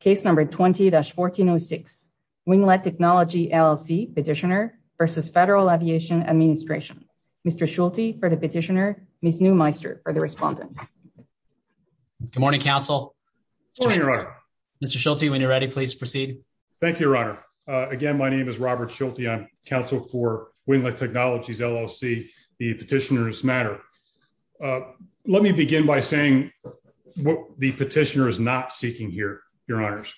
Case number 20-1406, Winglet Technology, LLC, petitioner versus Federal Aviation Administration. Mr. Schulte for the petitioner, Ms. Neumeister for the respondent. Good morning, counsel. Good morning, Your Honor. Mr. Schulte, when you're ready, please proceed. Thank you, Your Honor. Again, my name is Robert Schulte. I'm counsel for Winglet Technologies, LLC, the petitioner's matter. Let me begin by saying what the petitioner is not seeking here, Your Honors.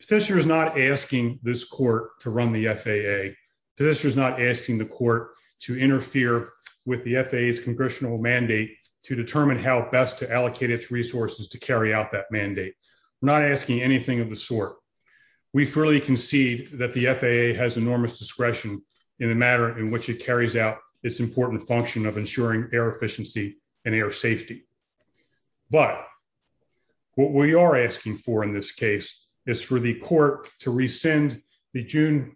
Petitioner is not asking this court to run the FAA. Petitioner is not asking the court to interfere with the FAA's congressional mandate to determine how best to allocate its resources to carry out that mandate. We're not asking anything of the sort. We fully concede that the FAA has enormous discretion in the matter in which it carries out its important function of ensuring air efficiency and air safety. But what we are asking for in this case is for the court to rescind the June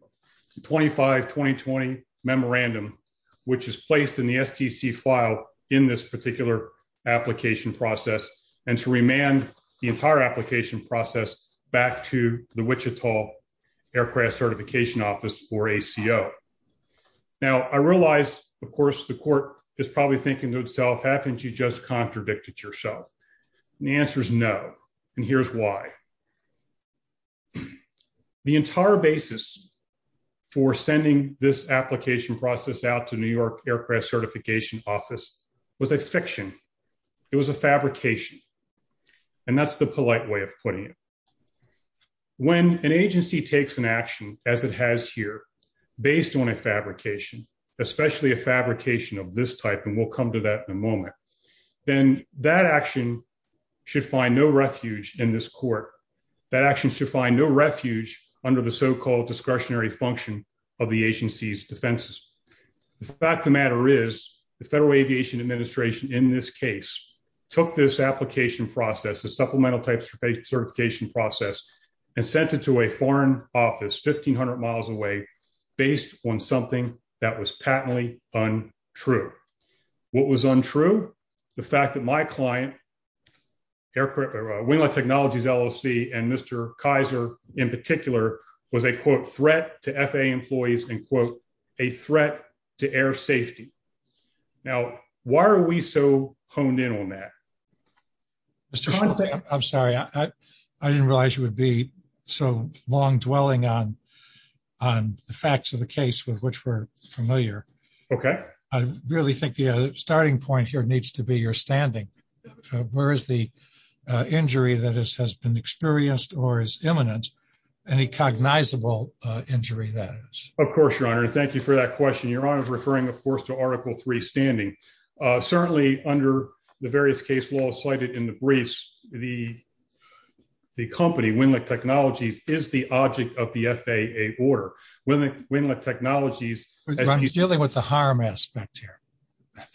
25, 2020 memorandum, which is placed in the STC file in this particular application process and to remand the entire application process back to the Wichita Aircraft Certification Office, or ACO. Now, I realize, of course, the court is probably thinking to itself, haven't you just contradicted yourself? And the answer is no, and here's why. The entire basis for sending this application process out to New York Aircraft Certification Office was a fiction. It was a fabrication, and that's the polite way of putting it. When an agency takes an action, as it has here, based on a fabrication, especially a fabrication of this type, and we'll come to that in a moment, then that action should find no refuge in this court. That action should find no refuge under the so-called discretionary function of the agency's defenses. The fact of the matter is, the Federal Aviation Administration, in this case, took this application process, the supplemental type certification process, and sent it to a foreign office 1,500 miles away based on something that was patently untrue. What was untrue? The fact that my client, Winglot Technologies LLC, and Mr. Kaiser in particular, was a, quote, threat to FAA employees, end quote, a threat to air safety. Now, why are we so honed in on that? Mr. Shultz. I'm sorry, I didn't realize you would be so long-dwelling on the facts of the case with which we're familiar. Okay. I really think the starting point here needs to be your standing. Where is the injury that has been experienced or is imminent, any cognizable injury that is? Of course, Your Honor, and thank you for that question. Your Honor is referring, of course, to Article III standing. Certainly, under the various case laws cited in the briefs, the company, Winglot Technologies, is the object of the FAA order. Winglot Technologies- Ron, he's dealing with the harm aspect here,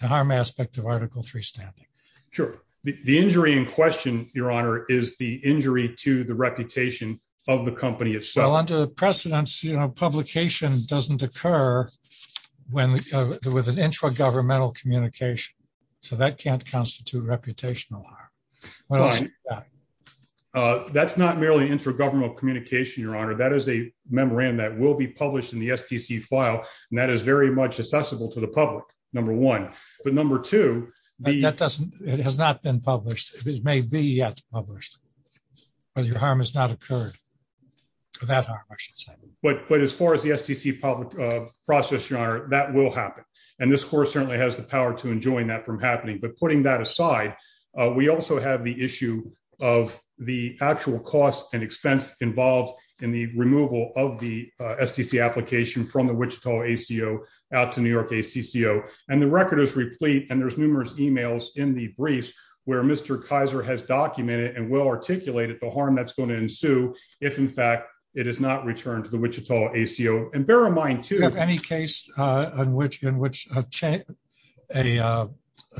the harm aspect of Article III standing. Sure. The injury in question, Your Honor, is the injury to the reputation of the company itself. Well, under the precedents, publication doesn't occur with an intra-governmental communication, so that can't constitute reputational harm. What else is that? That's not merely an intra-governmental communication, Your Honor. That is a memorandum that will be published in the STC file and that is very much accessible to the public, number one. But number two- That doesn't, it has not been published. It may be yet published, but your harm has not occurred, or that harm, I should say. But as far as the STC process, Your Honor, that will happen. And this Court certainly has the power to enjoin that from happening. But putting that aside, we also have the issue of the actual cost and expense involved in the removal of the STC application from the Wichita ACO out to New York ACCO. And the record is replete, and there's numerous emails in the briefs where Mr. Kaiser has documented and will articulate it, the harm that's going to ensue if, in fact, it is not returned to the Wichita ACO. And bear in mind, too- Do you have any case in which a change, an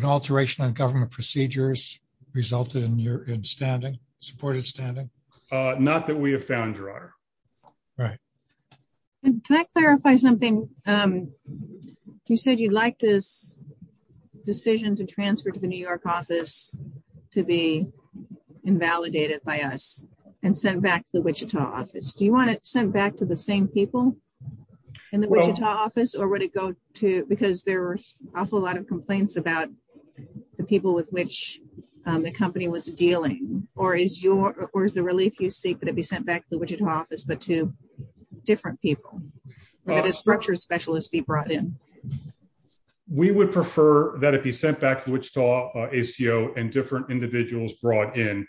alteration on government procedures resulted in your standing, supported standing? Not that we have found, Your Honor. Right. And can I clarify something? You said you'd like this decision to transfer to the New York office to be invalidated by us and sent back to the Wichita office. Do you want it sent back to the same people in the Wichita office, or would it go to, because there were an awful lot of complaints about the people with which the company was dealing, or is the relief you seek that it be sent back to the Wichita office, but to different people, or that a structure specialist be brought in? We would prefer that it be sent back to the Wichita ACO and different individuals brought in.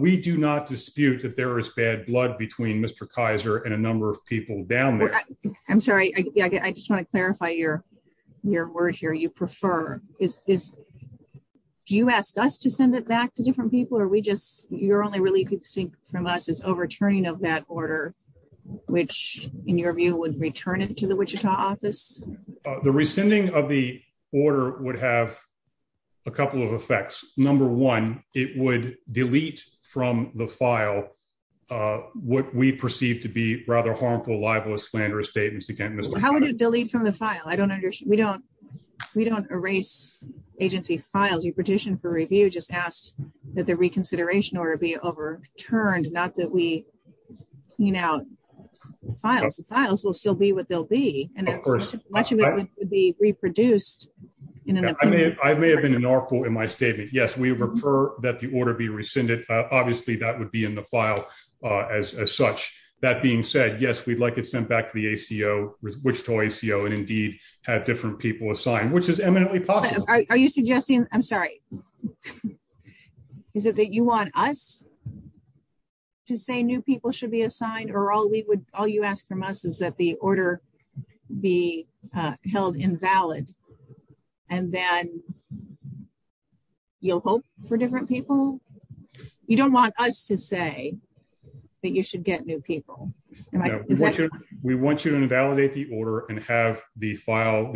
We do not dispute that there is bad blood between Mr. Kaiser and a number of people down there. I'm sorry, I just want to clarify your word here. You prefer, do you ask us to send it back to different people, or are we just, your only relief you seek from us is overturning of that order, which in your view would return it to the Wichita office? The rescinding of the order would have a couple of effects. Number one, it would delete from the file what we perceive to be rather harmful, libelous, slanderous statements that can't- How would it delete from the file? I don't understand. We don't erase agency files. You petitioned for review, just asked that the reconsideration order be overturned, not that we clean out files. The files will still be what they'll be, and much of it would be reproduced in an opinion. I may have been unlawful in my statement. Yes, we refer that the order be rescinded. Obviously, that would be in the file as such. That being said, yes, we'd like it sent back to the ACO, Wichita ACO, and indeed have different people assigned, which is eminently possible. Are you suggesting, I'm sorry, is it that you want us to say new people should be assigned, or all you ask from us is that the order be held invalid, and then you'll hope for different people? You don't want us to say that you should get new people. We want you to invalidate the order and have the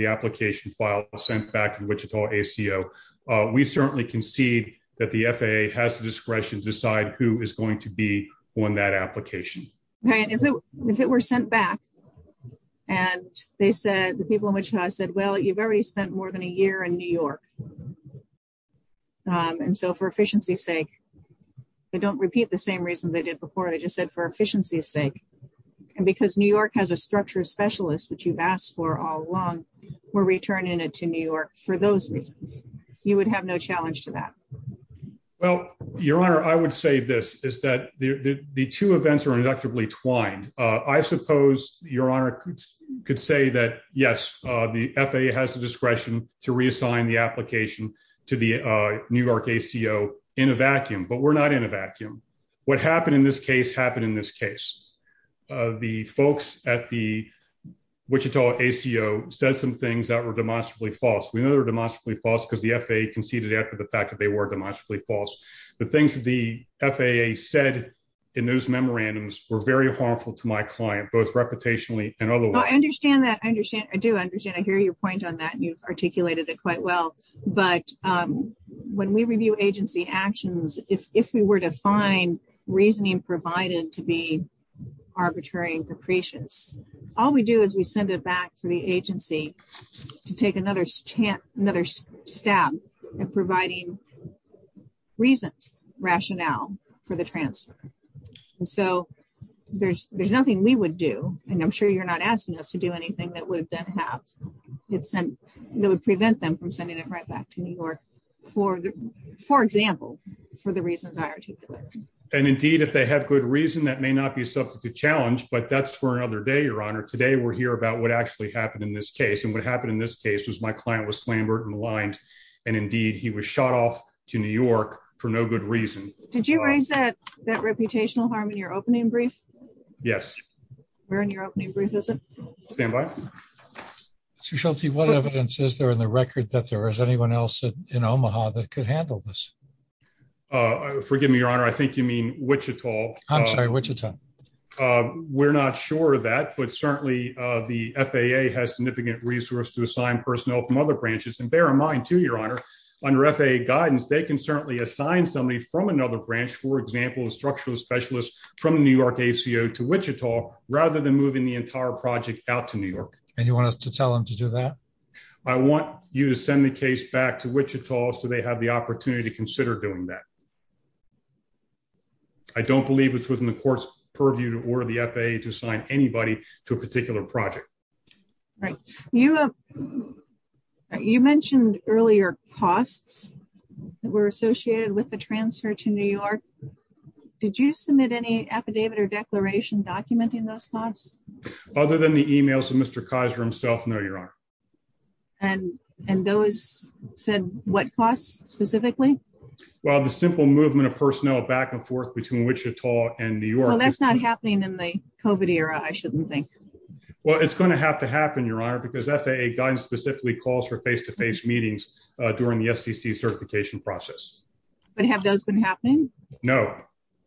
application file sent back to the Wichita ACO. We certainly concede that the FAA has the discretion to decide who is going to be on that application. Right, and so if it were sent back, and the people in Wichita said, well, you've already spent more than a year in New York, and so for efficiency's sake, they don't repeat the same reason they did before. They just said for efficiency's sake, and because New York has a structure specialist which you've asked for all along, we're returning it to New York for those reasons. You would have no challenge to that. Well, Your Honor, I would say this, is that the two events are inductively twined. I suppose Your Honor could say that, yes, the FAA has the discretion to reassign the application to the New York ACO in a vacuum, but we're not in a vacuum. What happened in this case happened in this case. The folks at the Wichita ACO said some things that were demonstrably false. We know they're demonstrably false because the FAA conceded after the fact that they were demonstrably false. The things that the FAA said in those memorandums were very harmful to my client, both reputationally and otherwise. I understand that, I do understand. I hear your point on that, and you've articulated it quite well, but when we review agency actions, if we were to find reasoning provided to be arbitrary and capricious, all we do is we send it back for the agency to take another stab at providing reasoned rationale for the transfer. And so there's nothing we would do, and I'm sure you're not asking us to do anything that would prevent them from sending it right back to New York, for example, for the reasons I articulated. And indeed, if they have good reason, that may not be a substantive challenge, but that's for another day, Your Honor. Today, we're here about what actually happened in this case, and what happened in this case was my client was slandered and maligned, and indeed, he was shot off to New York for no good reason. Did you raise that reputational harm in your opening brief? Yes. Where in your opening brief is it? Standby. Chief Shultz, what evidence is there in the record that there is anyone else in Omaha that could handle this? Forgive me, Your Honor, I think you mean Wichita. I'm sorry, Wichita. We're not sure of that, but certainly the FAA has significant resource to assign personnel from other branches, and bear in mind, too, Your Honor, under FAA guidance, they can certainly assign somebody from another branch, for example, a structural specialist from the New York ACO to Wichita, rather than moving the entire project out to New York. And you want us to tell them to do that? I want you to send the case back to Wichita so they have the opportunity to consider doing that. I don't believe it's within the court's purview to order the FAA to assign anybody to a particular project. Right. You mentioned earlier costs that were associated with the transfer to New York. Did you submit any affidavit or declaration documenting those costs? Other than the emails of Mr. Kiser himself, no, Your Honor. And those said what costs specifically? Well, the simple movement of personnel back and forth between Wichita and New York. Well, that's not happening in the COVID era, I shouldn't think. Well, it's gonna have to happen, Your Honor, because FAA guidance specifically calls for face-to-face meetings during the SEC certification process. But have those been happening? No.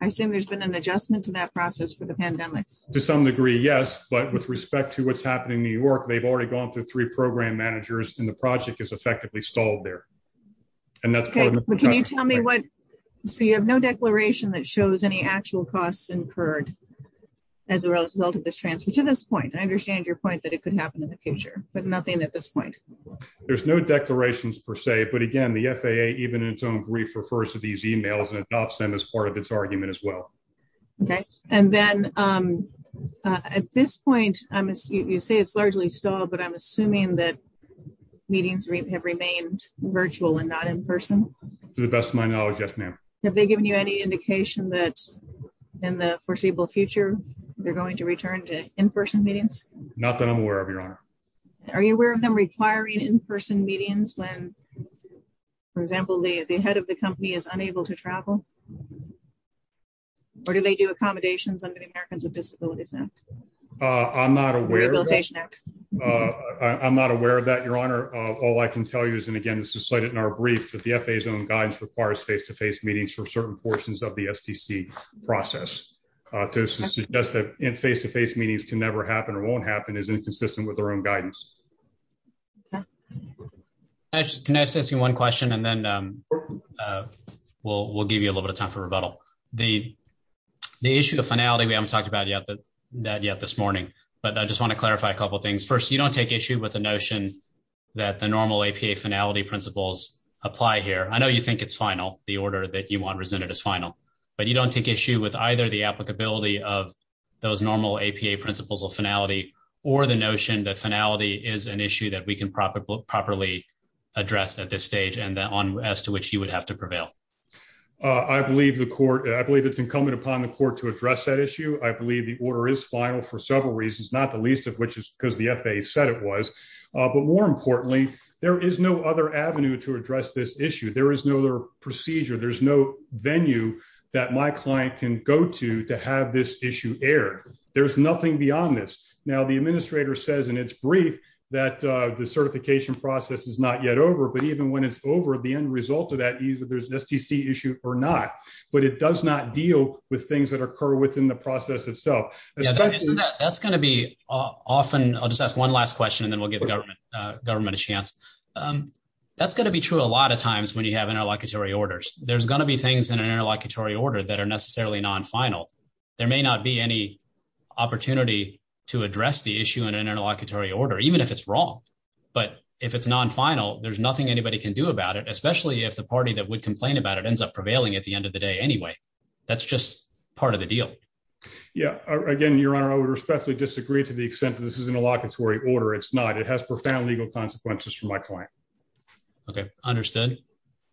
I assume there's been an adjustment to that process for the pandemic. To some degree, yes, but with respect to what's happening in New York, they've already gone up to three program managers and the project is effectively stalled there. And that's part of the- Okay, but can you tell me what, so you have no declaration that shows any actual costs incurred as a result of this transfer, to this point. I understand your point that it could happen in the future, but nothing at this point. There's no declarations per se, but again, the FAA, even in its own brief, refers to these emails and adopts them as part of its argument as well. Okay. And then at this point, you say it's largely stalled, but I'm assuming that meetings have remained virtual and not in-person? To the best of my knowledge, yes, ma'am. Have they given you any indication that in the foreseeable future, they're going to return to in-person meetings? Not that I'm aware of, Your Honor. Are you aware of them requiring in-person meetings when, for example, the head of the company is unable to travel? Or do they do accommodations under the Americans with Disabilities Act? I'm not aware- Rehabilitation Act. I'm not aware of that, Your Honor. All I can tell you is, and again, this is cited in our brief, that the FAA's own guidance requires face-to-face meetings for certain portions of the STC process. To suggest that face-to-face meetings can never happen or won't happen is inconsistent with their own guidance. Can I just ask you one question, and then we'll give you a little bit of time for rebuttal. The issue of finality, we haven't talked about that yet this morning, but I just want to clarify a couple of things. First, you don't take issue with the notion that the normal APA finality principles apply here. I know you think it's final, the order that you want resented as final, but you don't take issue with either the applicability of those normal APA principles of finality or the notion that finality is an issue that we can properly address at this stage and as to which you would have to prevail. I believe it's incumbent upon the court to address that issue. I believe the order is final for several reasons, not the least of which is because the FAA said it was, but more importantly, there is no other avenue to address this issue. There is no other procedure. There's no venue that my client can go to to have this issue aired. There's nothing beyond this. Now, the administrator says in its brief that the certification process is not yet over, but even when it's over, the end result of that, either there's an STC issue or not, but it does not deal with things that occur within the process itself. Especially- That's going to be often, I'll just ask one last question and then we'll give the government a chance. That's going to be true a lot of times when you have interlocutory orders. There's going to be things in an interlocutory order that are necessarily non-final. There may not be any opportunity to address the issue in an interlocutory order, even if it's wrong. But if it's non-final, there's nothing anybody can do about it, especially if the party that would complain about it ends up prevailing at the end of the day anyway. That's just part of the deal. Yeah, again, Your Honor, I would respectfully disagree to the extent that this is an interlocutory order. It's not. It has profound legal consequences for my client. Okay, understood.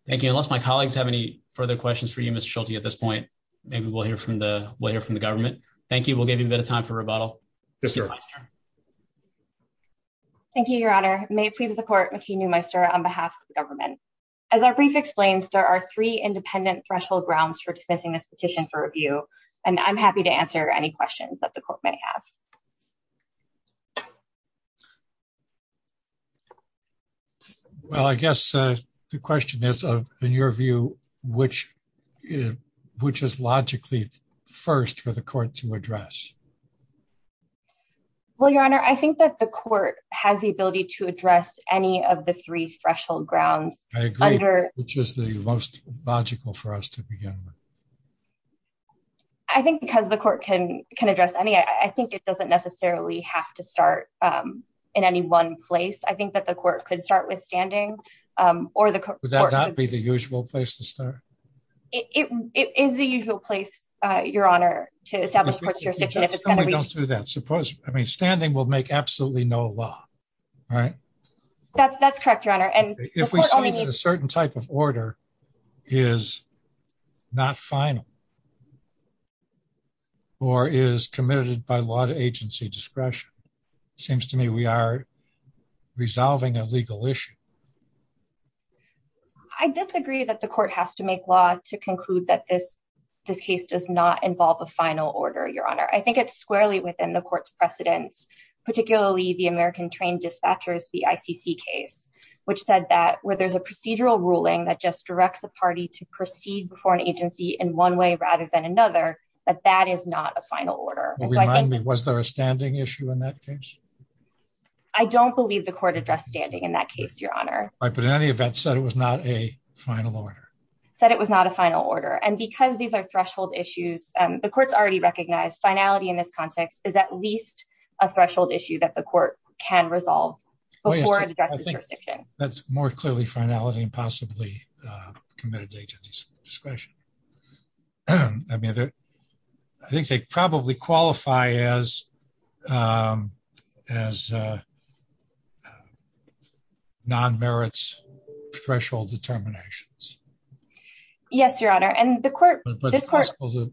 Thank you. Unless my colleagues have any further questions for you, Mr. Schulte, at this point, maybe we'll hear from the government. Thank you. We'll give you a bit of time for rebuttal. Yes, sir. Thank you, Your Honor. May it please the court, McKee Newmeister on behalf of the government. As our brief explains, there are three independent threshold grounds for dismissing this petition for review, and I'm happy to answer any questions that the court may have. Well, I guess the question is, in your view, which is logically first for the court to address? Well, Your Honor, I think that the court has the ability to address any of the three threshold grounds. I agree. Which is the most logical for us to begin with. I think because the court can address any, I think it doesn't necessarily have to start in any one place. I think that the court could start with standing, or the court- Would that not be the usual place to start? It is the usual place, Your Honor, to establish courtship. Somebody don't do that. Suppose, I mean, standing will make absolutely no law, right? That's correct, Your Honor, and- If we say that a certain type of order is not final, or is committed by law to agency discretion, it seems to me we are resolving a legal issue. I disagree that the court has to make law to conclude that this case does not involve a final order, Your Honor. I think it's squarely within the court's precedence, particularly the American Train Dispatchers, the ICC case, which said that where there's a procedural ruling that just directs a party to proceed before an agency in one way rather than another, that that is not a final order. Well, remind me, was there a standing issue in that case? I don't believe the court addressed standing in that case, Your Honor. Right, but in any event, said it was not a final order. Said it was not a final order. And because these are threshold issues, the court's already recognized finality in this context is at least a threshold issue that the court can resolve before it addresses jurisdiction. That's more clearly finality and possibly committed to agency discretion. I mean, I think they probably qualify as non-merits threshold determinations. Yes, Your Honor. And the court-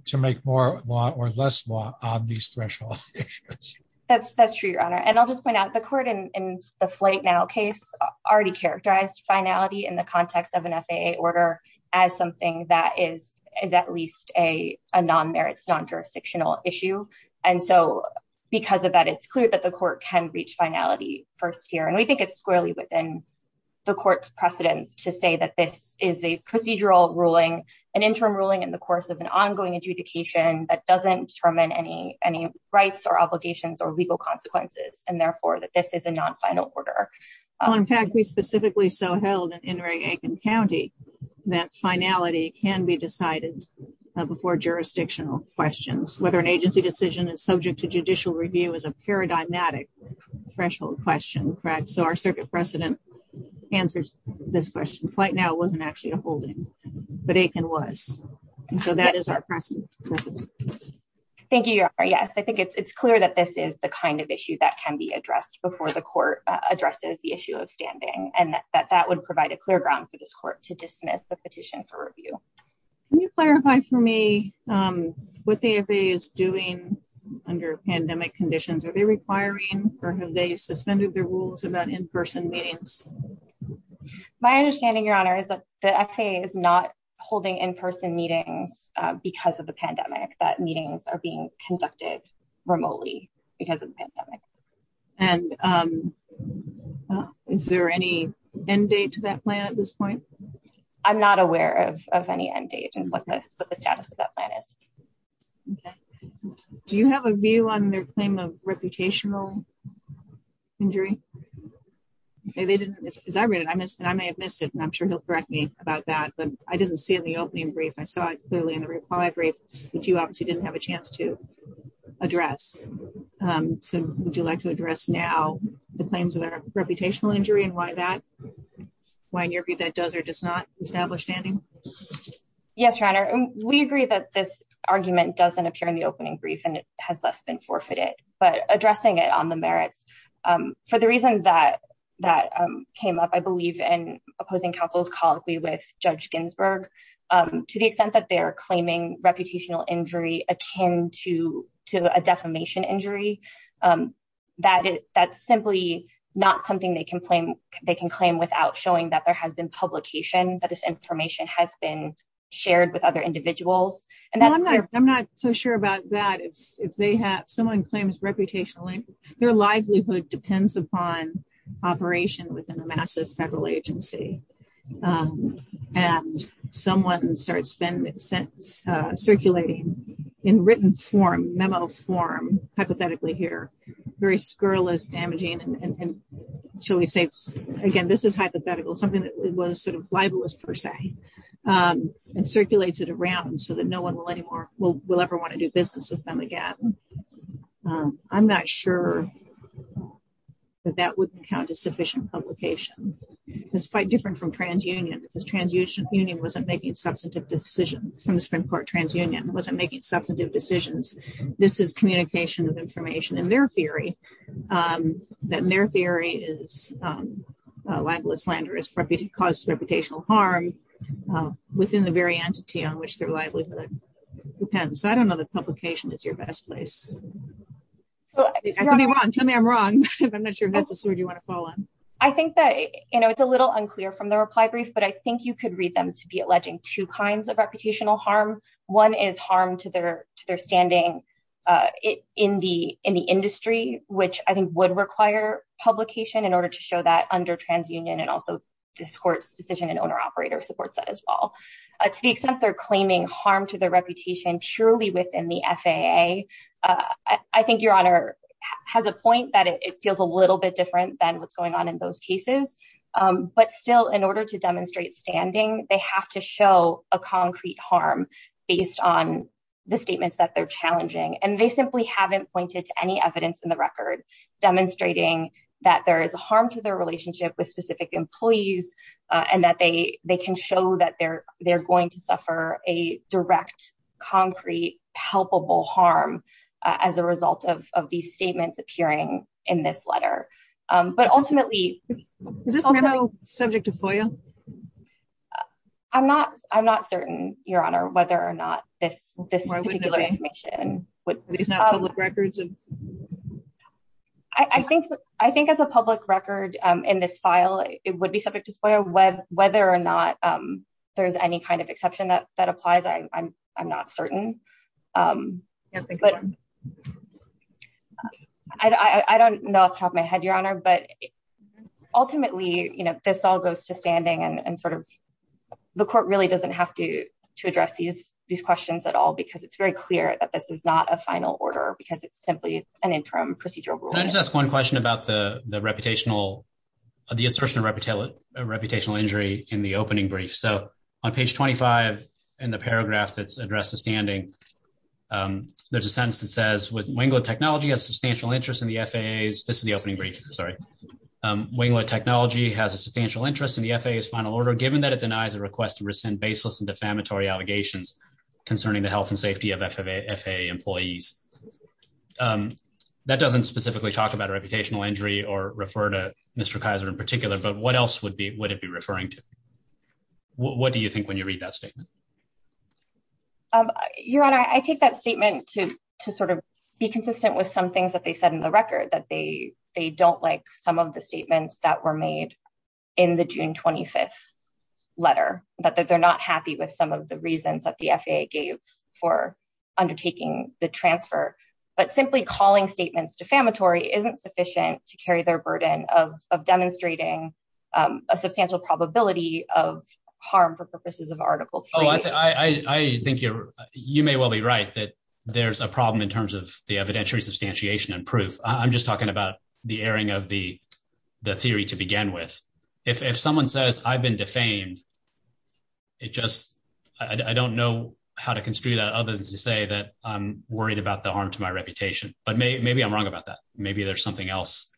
To make more law or less law on these threshold issues. That's true, Your Honor. And I'll just point out the court in the Flight Now case already characterized finality in the context of an FAA order as something that is at least a non-merits, non-jurisdictional issue. And so because of that, it's clear that the court can reach finality first here. And we think it's squarely within the court's precedence to say that this is a procedural ruling, an interim ruling in the course of an ongoing adjudication that doesn't determine any rights or obligations or legal consequences, and therefore that this is a non-final order. Well, in fact, we specifically so held in Enright-Aiken County that finality can be decided before jurisdictional questions. Whether an agency decision is subject to judicial review is a paradigmatic threshold question, correct? So our circuit precedent answers this question. Flight Now wasn't actually a holding, but Aiken was. And so that is our precedent. Thank you, Your Honor. Yes, I think it's clear that this is the kind of issue that can be addressed before the court addresses the issue of standing, and that that would provide a clear ground for this court to dismiss the petition for review. Can you clarify for me what the FAA is doing under pandemic conditions? or have they suspended their rules about in-person meetings? My understanding, Your Honor, is that the FAA is not holding in-person meetings because of the pandemic, that meetings are being conducted remotely because of the pandemic. And is there any end date to that plan at this point? I'm not aware of any end date and what the status of that plan is. Okay. Do you have a view on their claim of reputational injury? Okay, they didn't. As I read it, and I may have missed it, and I'm sure he'll correct me about that, but I didn't see it in the opening brief. I saw it clearly in the reply brief, which you obviously didn't have a chance to address. So would you like to address now the claims of their reputational injury and why that, why in your view that does or does not establish standing? Yes, Your Honor. We agree that this argument doesn't appear in the opening brief and it has less been forfeited, but addressing it on the merits, for the reason that that came up, I believe in opposing counsel's colloquy with Judge Ginsburg, to the extent that they're claiming reputational injury akin to a defamation injury, that's simply not something they can claim without showing that there has been publication, that this information has been shared with other individuals. And that's- Well, I'm not so sure about that. If someone claims reputational injury, their livelihood depends upon operation within a massive federal agency. And someone starts circulating in written form, memo form, hypothetically here, very scurrilous, damaging, and shall we say, again, this is hypothetical, something that was sort of libelous per se, and circulates it around so that no one will ever want to do business with them again. I'm not sure that that would count as sufficient publication. It's quite different from transunion, because transunion wasn't making substantive decisions, from the Supreme Court, transunion wasn't making substantive decisions. This is communication of information in their theory, that in their theory is libelous, slanderous, cause reputational harm within the very entity on which their livelihood depends. So I don't know that publication is your best place. Tell me I'm wrong. I'm not sure if that's a sword you want to fall on. I think that, you know, it's a little unclear from the reply brief, but I think you could read them to be alleging two kinds of reputational harm. One is harm to their standing in the industry, which I think would require publication in order to show that under transunion, and also this court's decision and owner operator supports that as well. To the extent they're claiming harm to their reputation purely within the FAA, I think your honor has a point that it feels a little bit different than what's going on in those cases, but still in order to demonstrate standing, they have to show a concrete harm based on the statements that they're challenging. And they simply haven't pointed to any evidence in the record demonstrating that there is a harm and that they can show that they're going to suffer a direct, concrete, palpable harm as a result of these statements appearing in this letter. But ultimately- Is this memo subject to FOIA? I'm not certain, your honor, whether or not this particular information would- It's not public records? I think as a public record in this file, it would be subject to FOIA whether or not there's any kind of exception that applies, I'm not certain. I don't know off the top of my head, your honor, but ultimately, this all goes to standing and sort of the court really doesn't have to address these questions at all because it's very clear that this is not a final order because it's simply an interim procedural rule. Can I just ask one question about the assertion of reputational injury in the opening brief? So on page 25 in the paragraph that's addressed to standing, there's a sentence that says, with Wingler Technology has substantial interest in the FAA's- This is the opening brief, sorry. Wingler Technology has a substantial interest in the FAA's final order, given that it denies a request to rescind baseless and defamatory allegations concerning the health and safety of FAA employees. That doesn't specifically talk about a reputational injury or refer to Mr. Kaiser in particular, but what else would it be referring to? What do you think when you read that statement? Your honor, I take that statement to sort of be consistent with some things that they said in the record, that they don't like some of the statements that were made in the June 25th letter, that they're not happy with some of the reasons that the FAA gave for undertaking the transfer, but simply calling statements defamatory isn't sufficient to carry their burden of demonstrating a substantial probability of harm for purposes of article three. I think you may well be right that there's a problem in terms of the evidentiary substantiation and proof. I'm just talking about the airing of the theory to begin with. If someone says I've been defamed, it just, I don't know how to construe that other than to say that I'm worried about the harm to my reputation, but maybe I'm wrong about that. Maybe there's something else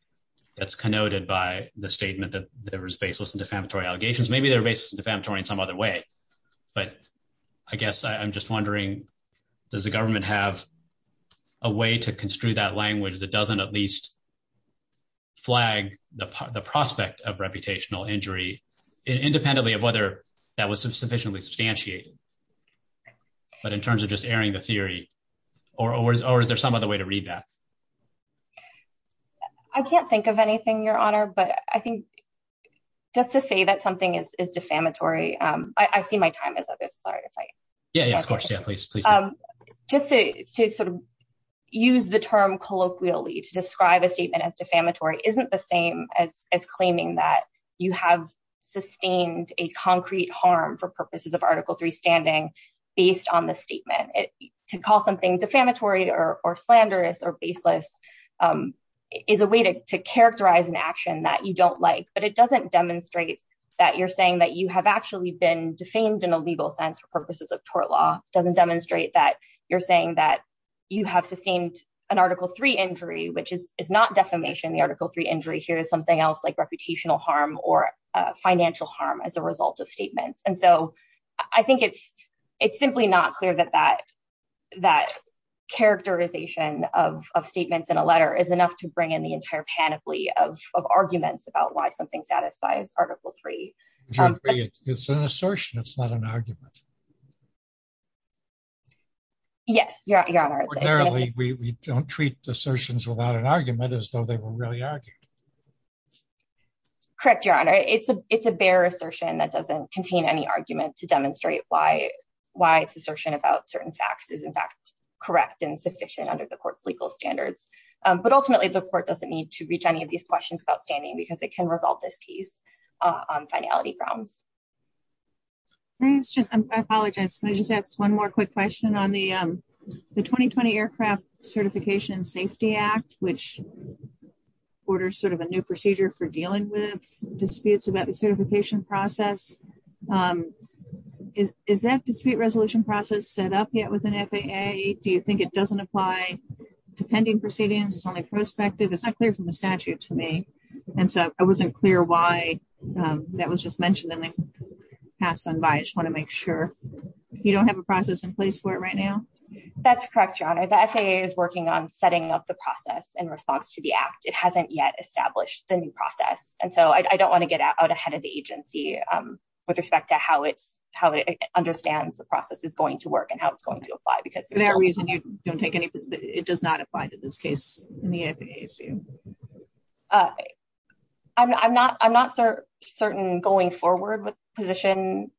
that's connoted by the statement that there was baseless and defamatory allegations. Maybe they're baseless and defamatory in some other way, but I guess I'm just wondering, does the government have a way to construe that language that doesn't at least flag the prospect of reputational injury, independently of whether that was sufficiently substantiated but in terms of just airing the theory, or is there some other way to read that? I can't think of anything, Your Honor, but I think just to say that something is defamatory, I see my time is up. Sorry if I- Yeah, yeah, of course. Yeah, please, please. Just to sort of use the term colloquially to describe a statement as defamatory isn't the same as claiming that you have sustained a concrete harm for purposes of Article III standing based on the statement. To call something defamatory or slanderous or baseless is a way to characterize an action that you don't like, but it doesn't demonstrate that you're saying that you have actually been defamed in a legal sense for purposes of tort law. It doesn't demonstrate that you're saying that you have sustained an Article III injury, which is not defamation. The Article III injury here is something else like reputational harm or financial harm as a result of statements. And so I think it's simply not clear that that characterization of statements in a letter is enough to bring in the entire panoply of arguments about why something satisfies Article III. Would you agree it's an assertion, it's not an argument? Yes, Your Honor. Ordinarily, we don't treat assertions without an argument as though they were really argued. Correct, Your Honor. It's a bare assertion that doesn't contain any argument to demonstrate why it's assertion about certain facts is in fact correct and sufficient under the court's legal standards. But ultimately, the court doesn't need to reach any of these questions about standing because it can resolve this case on finality grounds. I apologize, can I just ask one more quick question on the 2020 Aircraft Certification Safety Act, which orders sort of a new procedure for dealing with disputes about the certification process. Is that dispute resolution process set up yet with an FAA? Do you think it doesn't apply to pending proceedings, it's only prospective? It's not clear from the statute to me. And so I wasn't clear why that was just mentioned in the past on bias. I just wanna make sure. You don't have a process in place for it right now? That's correct, Your Honor. The FAA is working on setting up the process in response to the act. It hasn't yet established the new process. And so I don't wanna get out ahead of the agency with respect to how it understands the process is going to work and how it's going to apply. Because- Is there a reason you don't take any, it does not apply to this case in the FAA's view? I'm not certain going forward with the position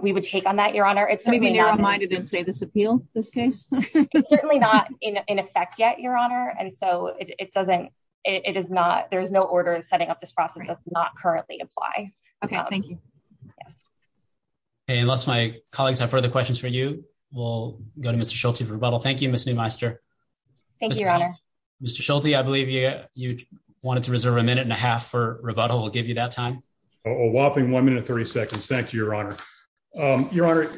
we would take on that, Your Honor. It's certainly not- Maybe narrow-minded and say this appeal, this case? It's certainly not in effect yet, Your Honor. And so it doesn't, it is not, there's no order in setting up this process does not currently apply. Okay, thank you. Hey, unless my colleagues have further questions for you, we'll go to Mr. Schulte for rebuttal. Thank you, Ms. Neumeister. Thank you, Your Honor. Mr. Schulte, I believe you wanted to reserve a minute and a half for rebuttal. We'll give you that time. A whopping one minute, 30 seconds. Thank you, Your Honor. Your Honor,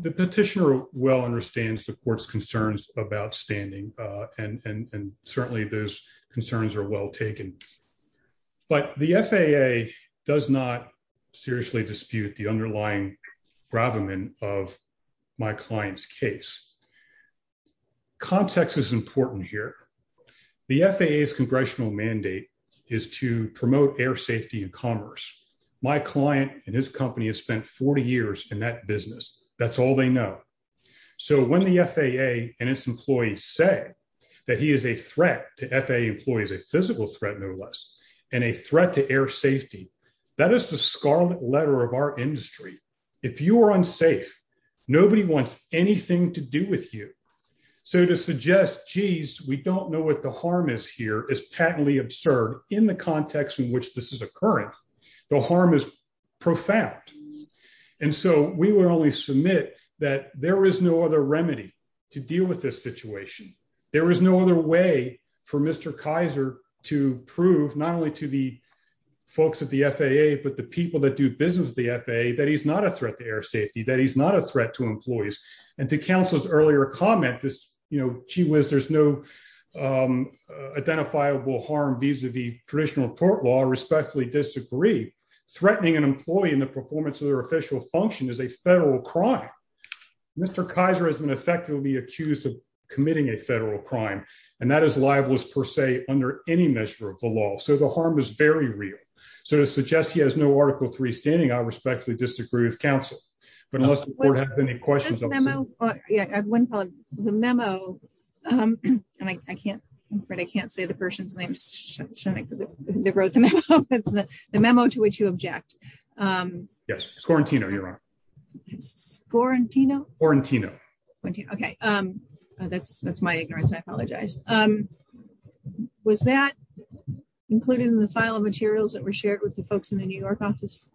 the petitioner well understands the court's concerns about standing and certainly those concerns are well taken. But the FAA does not seriously dispute the underlying bravamen of my client's case. Context is important here. The FAA's congressional mandate is to promote air safety and commerce. My client and his company has spent 40 years in that business. That's all they know. So when the FAA and its employees say that he is a threat to FAA employees, a physical threat, no less, and a threat to air safety, that is the scarlet letter of our industry. If you are unsafe, nobody wants anything to do with you. So to suggest, geez, we don't know what the harm is here is patently absurd in the context in which this is occurring. The harm is profound. And so we will only submit that there is no other remedy to deal with this situation. There is no other way for Mr. Kaiser to prove, not only to the folks at the FAA, but the people that do business with the FAA, that he's not a threat to air safety, that he's not a threat to employees. And to counsel's earlier comment, this gee whiz, there's no identifiable harm vis-a-vis traditional court law, I respectfully disagree. Threatening an employee in the performance of their official function is a federal crime. Mr. Kaiser has been effectively accused of committing a federal crime, and that is libelous per se under any measure of the law. So the harm is very real. So to suggest he has no Article III standing, I respectfully disagree with counsel. But unless the court has any questions- This memo, yeah, I have one comment. The memo, and I can't, I'm afraid I can't say the person's name, they wrote the memo, the memo to which you object. Yes, Scorantino, Your Honor. Scorantino? Scorantino. Okay, that's my ignorance, I apologize. Was that included in the file of materials that were shared with the folks in the New York office?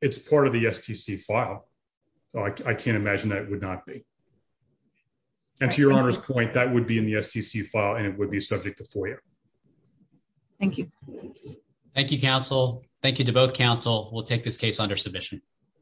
It's part of the STC file. I can't imagine that it would not be. And to Your Honor's point, that would be in the STC file, and it would be subject to FOIA. Thank you. Thank you, counsel. Thank you to both counsel. We'll take this case under submission.